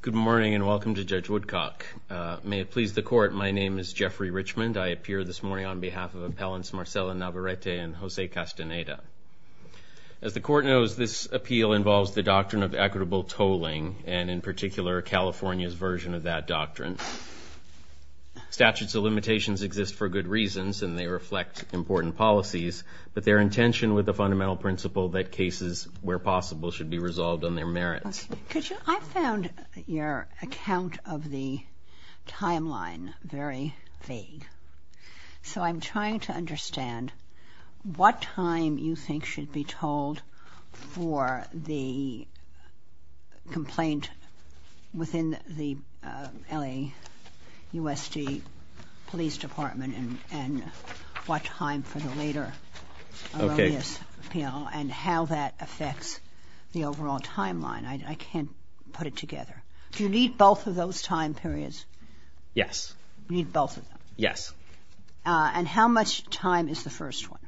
Good morning and welcome to Judge Woodcock. May it please the Court, my name is Jeffrey Richmond. I appear this morning on behalf of Appellants Marcella Navarrete and Jose Castaneda. As the Court knows, this appeal involves the doctrine of equitable tolling and in particular California's version of that doctrine. Statutes of limitations exist for good reasons and they reflect important policies, but they are in tension with the found your account of the timeline very vague, so I'm trying to understand what time you think should be told for the complaint within the LAUSD Police Department and what time for the later Aurelius appeal and how that affects the overall timeline. I can't put it together. Do you need both of those time periods? Yes. You need both of them? Yes. And how much time is the first one?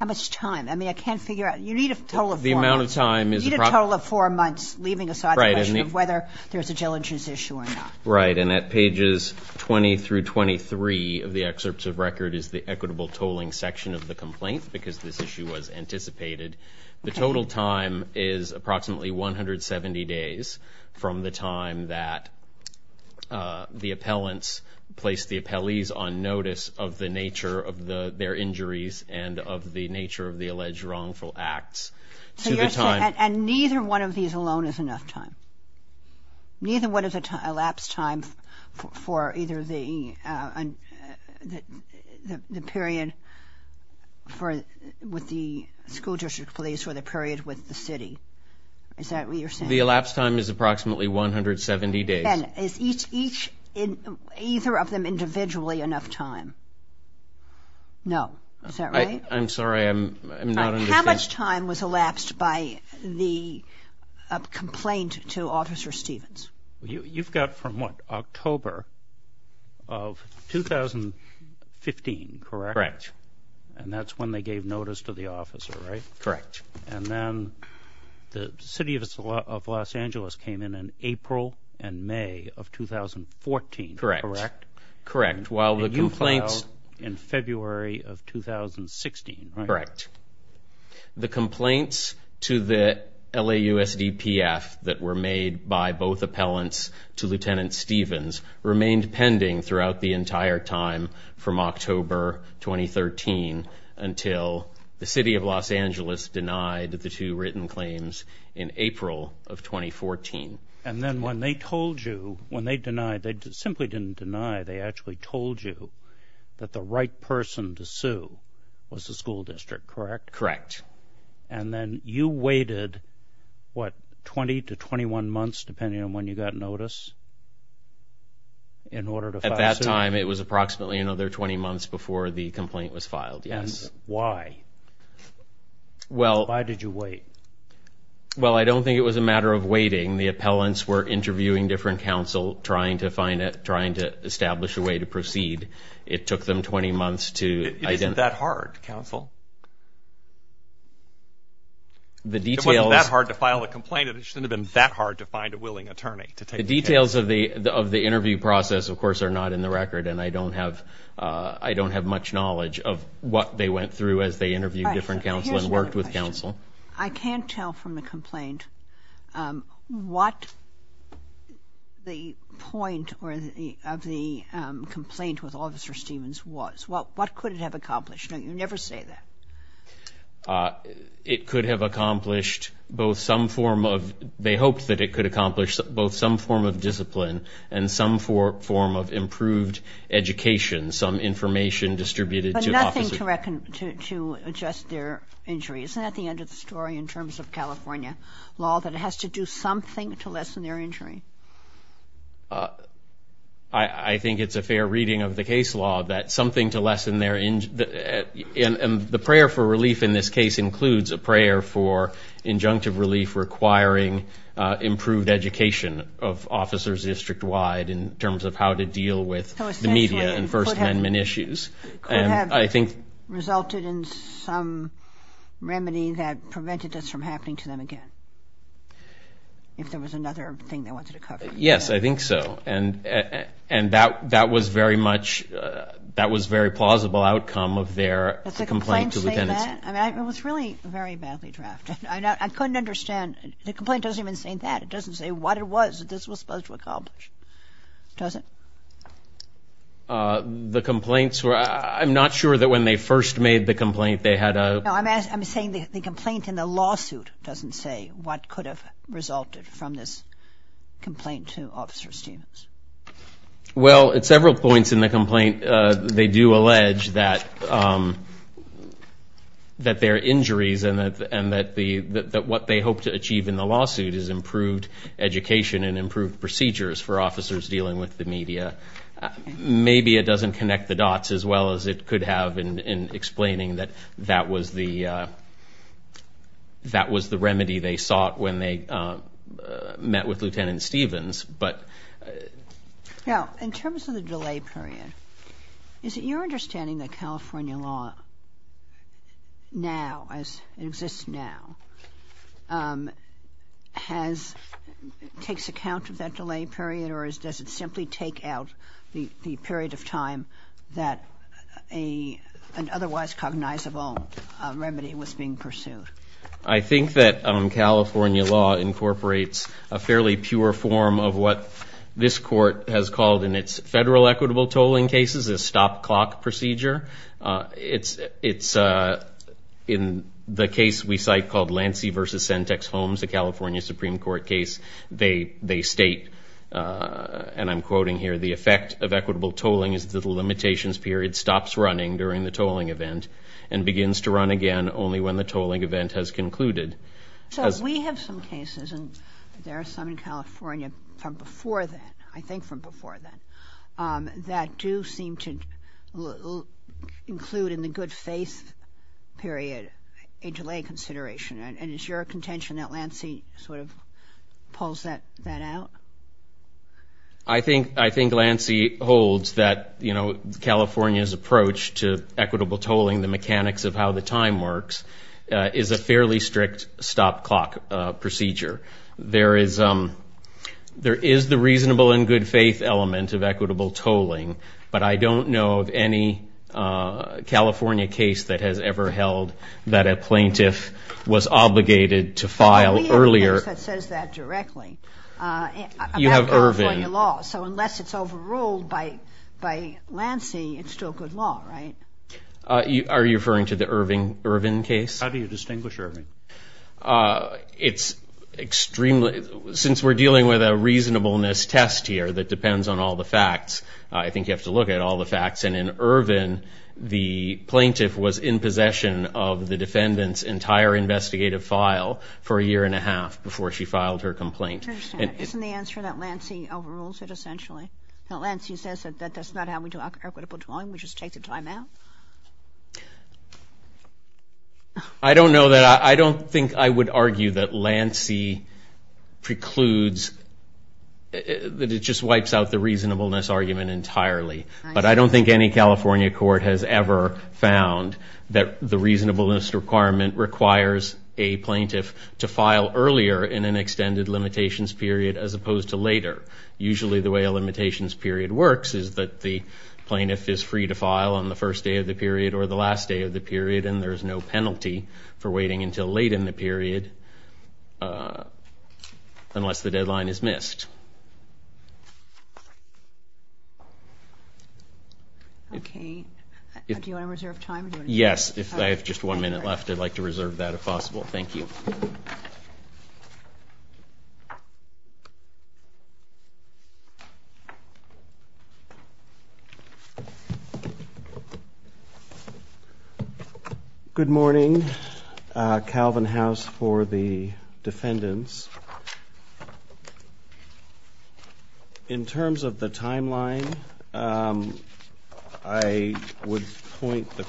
How much time? I mean, I can't figure out. You need a total of four months. The amount of time is the problem. You need a total of four months leaving aside the question of whether there's a jail entrance issue or not. Right. And at pages 20 through 23 of the excerpts of record is the equitable tolling section of the complaint because this issue was anticipated. The total time is approximately 170 days from the time that the appellants placed the appellees on notice of the nature of their injuries and of the nature of the alleged wrongful acts. And neither one of these alone is enough time? Neither one of the elapsed time for either the period with the school district police or the period with the city? Is that what you're saying? The elapsed time is approximately 170 days. And is each, either of them individually enough time? No. Is that right? I'm sorry. I'm not understanding. How much time was elapsed by the complaint to Officer Stevens? You've got from what, October of 2015, correct? Correct. And that's when they gave notice to the officer, right? Correct. And then the city of Los Angeles came in in April and May of 2014, correct? Correct. Correct. While the complaints... And you filed in February of 2016, right? Correct. The complaints to the LAUSDPF that were made by both appellants to Lieutenant Stevens remained pending throughout the entire time from October 2013 until the city of Los Angeles denied the two written claims in April of 2014. And then when they told you, when they denied, they simply didn't deny, they actually told you that the right person to sue was the school district, correct? Correct. And then you waited, what, 20 to 21 months, depending on when you got notice, in order to file suit? At that time, it was approximately another 20 months before the complaint was filed, yes. And why? Well... Why did you wait? Well, I don't think it was a matter of waiting. The appellants were interviewing different counsel, trying to establish a way to proceed. It took them 20 months to... It isn't that hard, counsel. The details... It wasn't that hard to file a complaint. It shouldn't have been that hard to find a willing attorney to take the case. The details of the interview process, of course, are not in the record, and I don't have much knowledge of what they went through as they interviewed different counsel and worked with counsel. I can't tell from the complaint what the point of the complaint with Officer Stevens was. What could it have accomplished? No, you never say that. It could have accomplished both some form of... They hoped that it could accomplish both some form of discipline and some form of improved education, some information distributed to officers. There's nothing to adjust their injuries. Isn't that the end of the story in terms of California law, that it has to do something to lessen their injury? I think it's a fair reading of the case law, that something to lessen their... And the prayer for relief in this case includes a prayer for injunctive relief requiring improved education of officers district-wide in terms of how to deal with the media and First Amendment issues. It could have resulted in some remedy that prevented this from happening to them again, if there was another thing they wanted to cover. Yes, I think so. And that was very much, that was very plausible outcome of their complaint to the dependency. Does the complaint say that? I mean, it was really very badly drafted. I couldn't understand. The complaint doesn't even say that. It doesn't say what it was that this was supposed to accomplish, does it? The complaints were... I'm not sure that when they first made the complaint, they had a... No, I'm saying the complaint in the lawsuit doesn't say what could have resulted from this complaint to Officer Stevens. Well, at several points in the complaint, they do allege that their injuries and that what they hope to achieve in the lawsuit is improved education and improved procedures for officers dealing with the media. Maybe it doesn't connect the dots as well as it could have in explaining that that was the remedy they sought when they met with Lieutenant Stevens. Now, in terms of the delay period, is it your understanding that California law now, as part of that delay period, or does it simply take out the period of time that an otherwise cognizable remedy was being pursued? I think that California law incorporates a fairly pure form of what this court has called in its federal equitable tolling cases, a stop clock procedure. It's in the case we state, and I'm quoting here, the effect of equitable tolling is that the limitations period stops running during the tolling event and begins to run again only when the tolling event has concluded. So, we have some cases, and there are some in California from before then, I think from before then, that do seem to include in the good faith period a delay consideration. And is your contention that Lancey sort of pulls that out? I think Lancey holds that California's approach to equitable tolling, the mechanics of how the time works, is a fairly strict stop clock procedure. There is the reasonable and good faith element of equitable tolling, but I don't know of any California case that has ever held that a plaintiff was obligated to file earlier. We have a case that says that directly about California law, so unless it's overruled by Lancey, it's still good law, right? Are you referring to the Irvin case? How do you distinguish Irvin? It's extremely, since we're dealing with a reasonableness test here that depends on all the facts, I think you have to look at all the facts. And in Irvin, the plaintiff was in possession of the defendant's entire investigative file for a year and a half before she filed her complaint. I understand. Isn't the answer that Lancey overrules it essentially? That Lancey says that that's not how we do equitable tolling, we just take the time out? I don't know that, I don't think I would argue that Lancey precludes, that it just wipes out the reasonableness argument entirely. But I don't think any California court has ever found that the reasonableness requirement requires a plaintiff to file earlier in an extended limitations period as opposed to later. Usually the way a limitations period works is that the plaintiff is free to file on the first day of the period or the last day of the period and there's no penalty for waiting until late in the period unless the Okay, do you want to reserve time? Yes, if I have just one minute left, I'd like to reserve that if possible. Thank you. Good morning, Calvin House for the defendants. In terms of the timeline, I would point the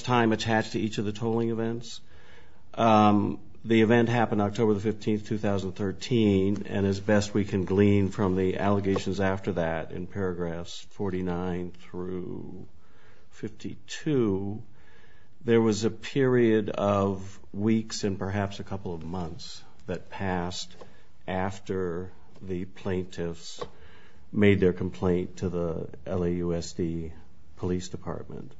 time attached to each of the tolling events. The event happened October the 15th, 2013 and as best we can glean from the allegations after that in paragraphs 49 through 52, there was a period of weeks and perhaps a couple of months that passed after the plaintiffs made their complaint to the LAUSD Police Department.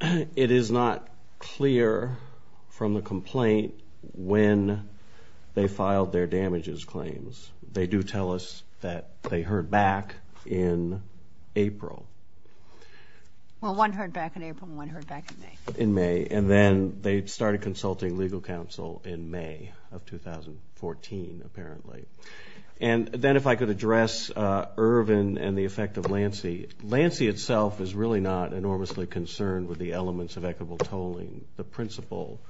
It is not clear from the complaint when they filed their damages claims. They do tell us that they heard back in April. Well, one heard back in April and one heard back in May. And then they started consulting legal counsel in May of 2014, apparently. And then if I could address Irvin and the effect of Lancey. Lancey itself is really not enormously concerned with the elements of equitable tolling, the principle.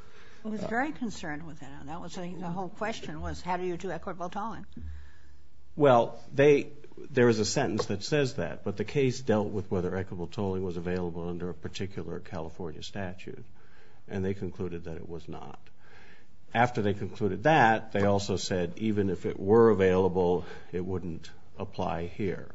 I was very concerned with it. The whole question was how do you do equitable tolling? Well, there is a sentence that says that, but the case dealt with whether equitable And they concluded that it was not. After they concluded that, they also said even if it were available, it wouldn't apply here.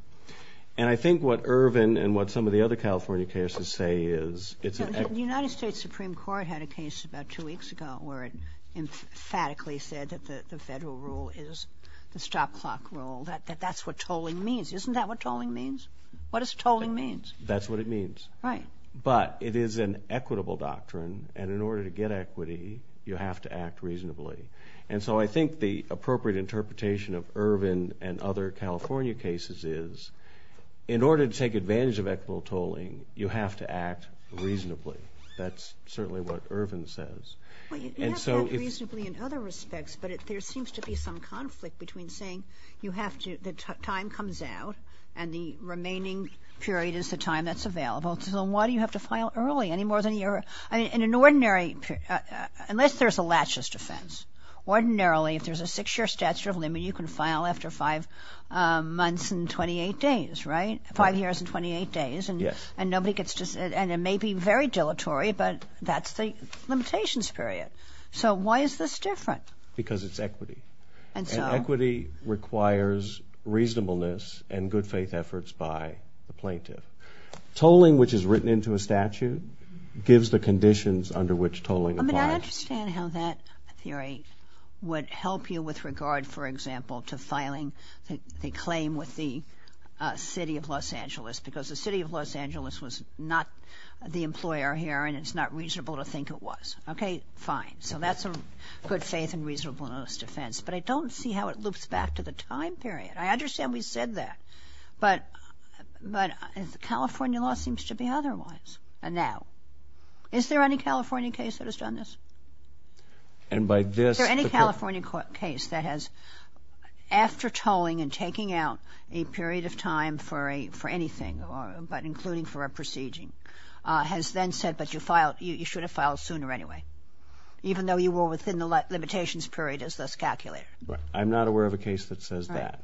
And I think what Irvin and what some of the other California cases say is it's an... The United States Supreme Court had a case about two weeks ago where it emphatically said that the federal rule is the stop clock rule, that that's what tolling means. Isn't that what tolling means? What does tolling mean? That's what it means. Right. But it is an equitable doctrine, and in order to get equity, you have to act reasonably. And so I think the appropriate interpretation of Irvin and other California cases is in order to take advantage of equitable tolling, you have to act reasonably. That's certainly what Irvin says. Well, you can act reasonably in other respects, but there seems to be some conflict between saying you have to, the time comes out, and the remaining period is the time that's available. So why do you have to file early, any more than you're... I mean, in an ordinary...unless there's a laches defense. Ordinarily, if there's a six-year statute of limit, you can file after five months and 28 days, right? Five years and 28 days. Yes. And nobody gets to...and it may be very dilatory, but that's the limitations period. So why is this different? Because it's equity. And so... And equity requires reasonableness and good faith efforts by the plaintiff. Tolling, which is written into a statute, gives the conditions under which tolling applies. I mean, I understand how that theory would help you with regard, for example, to filing the claim with the City of Los Angeles, because the City of Los Angeles was not the employer here, and it's not reasonable to think it was. Okay, fine. So that's a good faith and reasonableness defense. But I don't see how it loops back to the time period. I understand we said that. But California law seems to be otherwise now. Is there any California case that has done this? And by this... Is there any California case that has, after tolling and taking out a period of time for anything, but including for a proceeding, has then said, but you should have filed sooner anyway, even though you were within the limitations period as thus calculated? All right.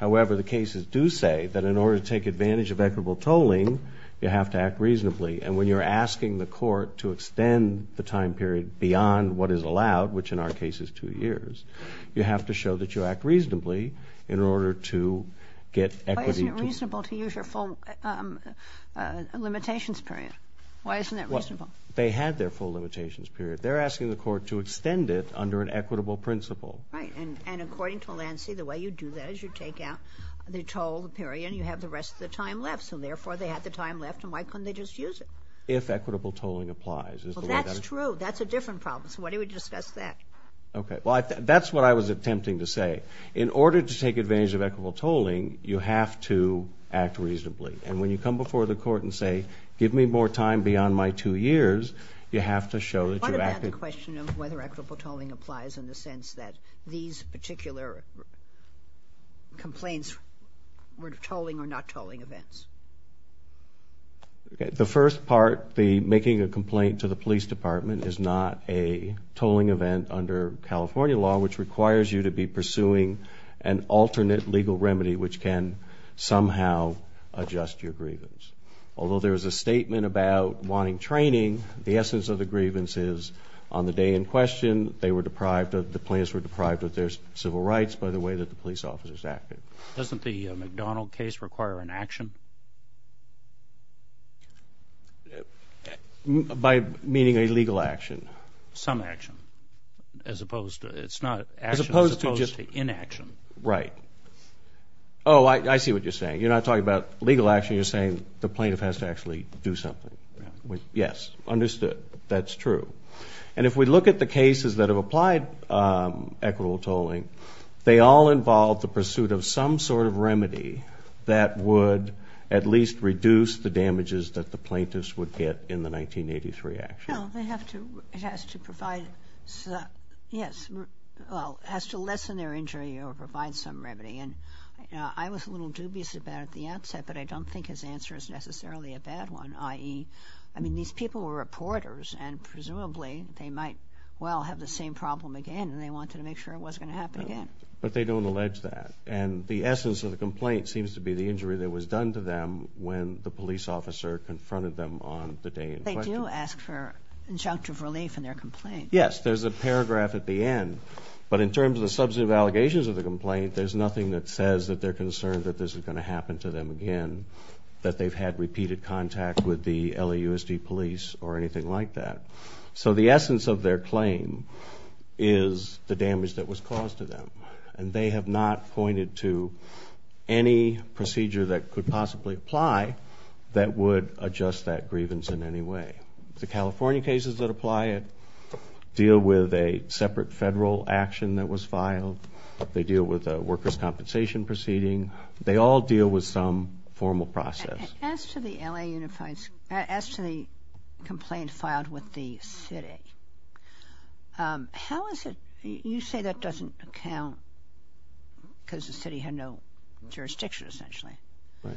However, the cases do say that in order to take advantage of equitable tolling, you have to act reasonably. And when you're asking the court to extend the time period beyond what is allowed, which in our case is 2 years, you have to show that you act reasonably in order to get equity to... Why isn't it reasonable to use your full limitations period? Why isn't that reasonable? Well, they had their full limitations period. They're asking the court to extend it under an equitable principle. Right. And according to Lancey, the way you do that is you take out the toll period, and you have the rest of the time left. So therefore, they had the time left, and why couldn't they just use it? If equitable tolling applies. Well, that's true. That's a different problem. So why don't we discuss that? Okay. Well, that's what I was attempting to say. In order to take advantage of equitable tolling, you have to act reasonably. And when you come before the court and say, give me more time beyond my 2 years, you have to show that you're acting... particular complaints were tolling or not tolling events. The first part, the making a complaint to the police department, is not a tolling event under California law, which requires you to be pursuing an alternate legal remedy, which can somehow adjust your grievance. Although there is a statement about wanting training, the essence of the grievance is on the day in question, they were deprived of, the plaintiffs were deprived of their civil rights by the way that the police officers acted. Doesn't the McDonald case require an action? By meaning a legal action. Some action, as opposed to, it's not action as opposed to inaction. Right. Oh, I see what you're saying. You're not talking about legal action. You're saying the plaintiff has to actually do something. Yes. Understood. That's true. And if we look at the cases that have applied equitable tolling, they all involve the pursuit of some sort of remedy that would at least reduce the damages that the plaintiffs would get in the 1983 action. No, they have to, it has to provide, yes, well, it has to lessen their injury or provide some remedy. And I was a little dubious about it at the outset, but I don't think his answer is necessarily a bad one, i.e., I mean, these people were reporters, and presumably they might well have the same problem again and they wanted to make sure it wasn't going to happen again. But they don't allege that. And the essence of the complaint seems to be the injury that was done to them when the police officer confronted them on the day in question. They do ask for injunctive relief in their complaint. Yes, there's a paragraph at the end. But in terms of the substantive allegations of the complaint, there's nothing that says that they're concerned that this is going to happen to them again, that they've had repeated contact with the LAUSD police or anything like that. So the essence of their claim is the damage that was caused to them. And they have not pointed to any procedure that could possibly apply that would adjust that grievance in any way. The California cases that apply it deal with a separate federal action that was filed. They deal with a workers' compensation proceeding. They all deal with some formal process. As to the complaint filed with the city, how is it? You say that doesn't count because the city had no jurisdiction essentially. Right.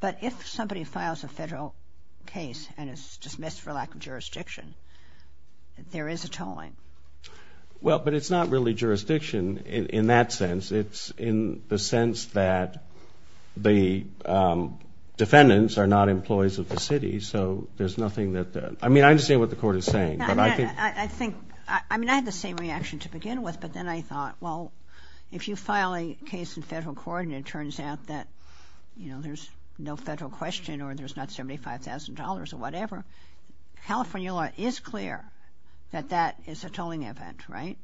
But if somebody files a federal case and is dismissed for lack of jurisdiction, there is a tolling. Well, but it's not really jurisdiction in that sense. It's in the sense that the defendants are not employees of the city, so there's nothing that the – I mean, I understand what the Court is saying. I think – I mean, I had the same reaction to begin with, but then I thought, well, if you file a case in federal court and it turns out that, you know, there's no federal question or there's not $75,000 or whatever, California law is clear that that is a tolling event, right?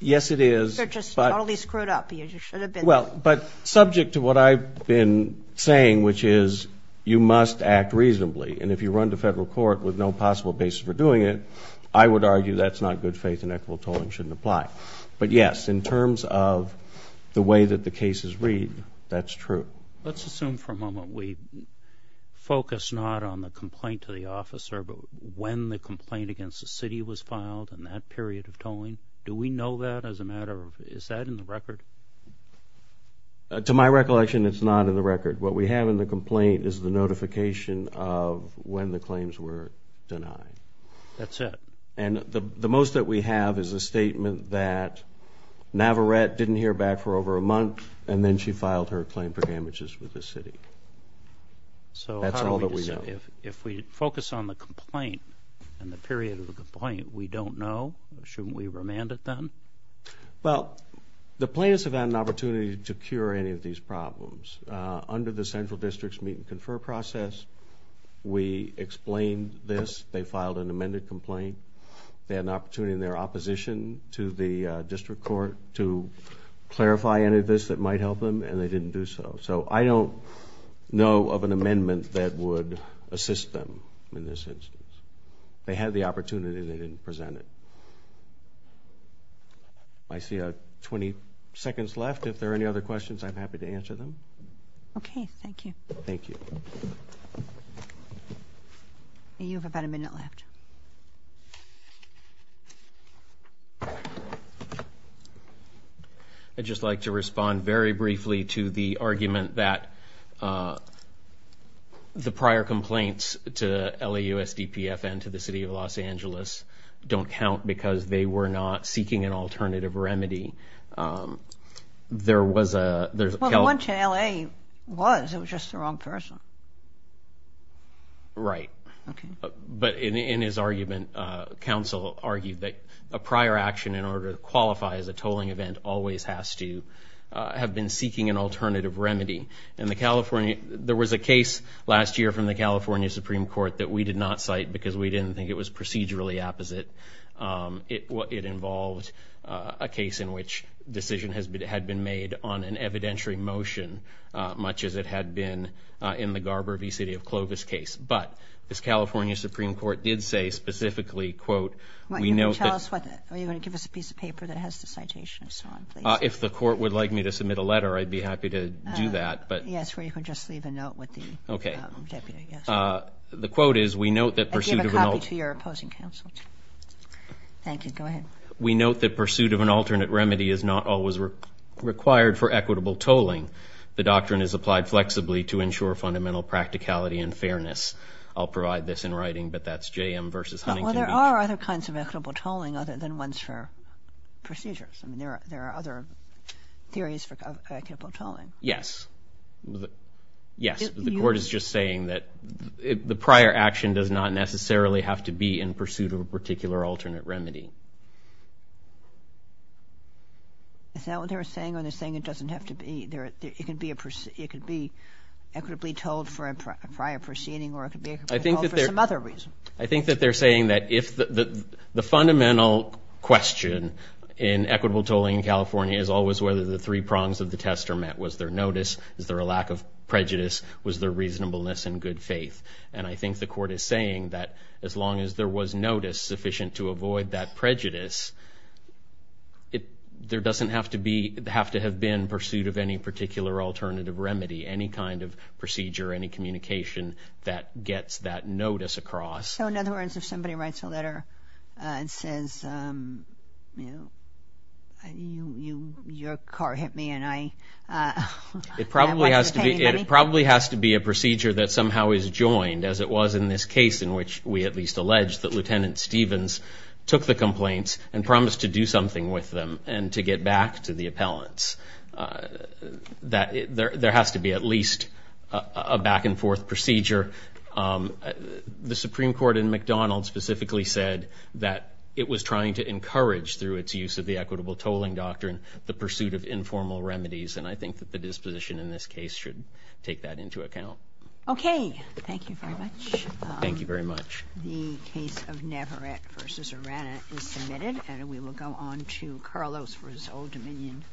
Yes, it is. They're just totally screwed up. You should have been. Well, but subject to what I've been saying, which is you must act reasonably, and if you run to federal court with no possible basis for doing it, I would argue that's not good faith and equitable tolling shouldn't apply. But, yes, in terms of the way that the cases read, that's true. Let's assume for a moment we focus not on the complaint to the officer but when the complaint against the city was filed and that period of tolling. Do we know that as a matter of – is that in the record? To my recollection, it's not in the record. What we have in the complaint is the notification of when the claims were denied. That's it. And the most that we have is a statement that Navarette didn't hear back for over a month and then she filed her claim for damages with the city. So how do we decide? That's all that we know. If we focus on the complaint and the period of the complaint, we don't know? Shouldn't we remand it then? Well, the plaintiffs have had an opportunity to cure any of these problems. Under the central district's meet and confer process, we explained this. They filed an amended complaint. They had an opportunity in their opposition to the district court to clarify any of this that might help them, and they didn't do so. So I don't know of an amendment that would assist them in this instance. They had the opportunity. They didn't present it. I see 20 seconds left. If there are any other questions, I'm happy to answer them. Okay. Thank you. Thank you. You have about a minute left. Thank you. I'd just like to respond very briefly to the argument that the prior complaints to LAUSDPF and to the city of Los Angeles don't count because they were not seeking an alternative remedy. There was a Well, the one to L.A. was. It was just the wrong person. Right. But in his argument, council argued that a prior action in order to qualify as a tolling event always has to have been seeking an alternative remedy. And there was a case last year from the California Supreme Court that we did not cite because we didn't think it was procedurally apposite. It involved a case in which a decision had been made on an evidentiary motion, much as it had been in the Garber v. City of Clovis case. But the California Supreme Court did say specifically, quote, we note that Are you going to give us a piece of paper that has the citation and so on, please? If the court would like me to submit a letter, I'd be happy to do that. Yes, or you can just leave a note with the deputy. Okay. The quote is, we note that pursuit of an I gave a copy to your opposing counsel. Thank you. Go ahead. We note that pursuit of an alternate remedy is not always required for equitable tolling. The doctrine is applied flexibly to ensure fundamental practicality and fairness. I'll provide this in writing, but that's JM v. Huntington Beach. Well, there are other kinds of equitable tolling other than ones for procedures. I mean, there are other theories for equitable tolling. Yes. Yes. The court is just saying that the prior action does not necessarily have to be in pursuit of a particular alternate remedy. Is that what they're saying, or they're saying it doesn't have to be? It could be equitably tolled for a prior proceeding, or it could be equitable tolled for some other reason. I think that they're saying that if the fundamental question in equitable tolling in California is always whether the three prongs of the test are met. Was there notice? Is there a lack of prejudice? Was there reasonableness and good faith? And I think the court is saying that as long as there was notice sufficient to avoid that prejudice, there doesn't have to have been pursuit of any particular alternative remedy, any kind of procedure, any communication that gets that notice across. So, in other words, if somebody writes a letter and says, you know, your car hit me and I wasn't paying money. It probably has to be a procedure that somehow is joined, as it was in this case, in which we at least allege that Lieutenant Stevens took the complaints and promised to do something with them and to get back to the appellants. There has to be at least a back-and-forth procedure. The Supreme Court in McDonald specifically said that it was trying to encourage, through its use of the equitable tolling doctrine, the pursuit of informal remedies. And I think that the disposition in this case should take that into account. Okay. Thank you very much. Thank you very much.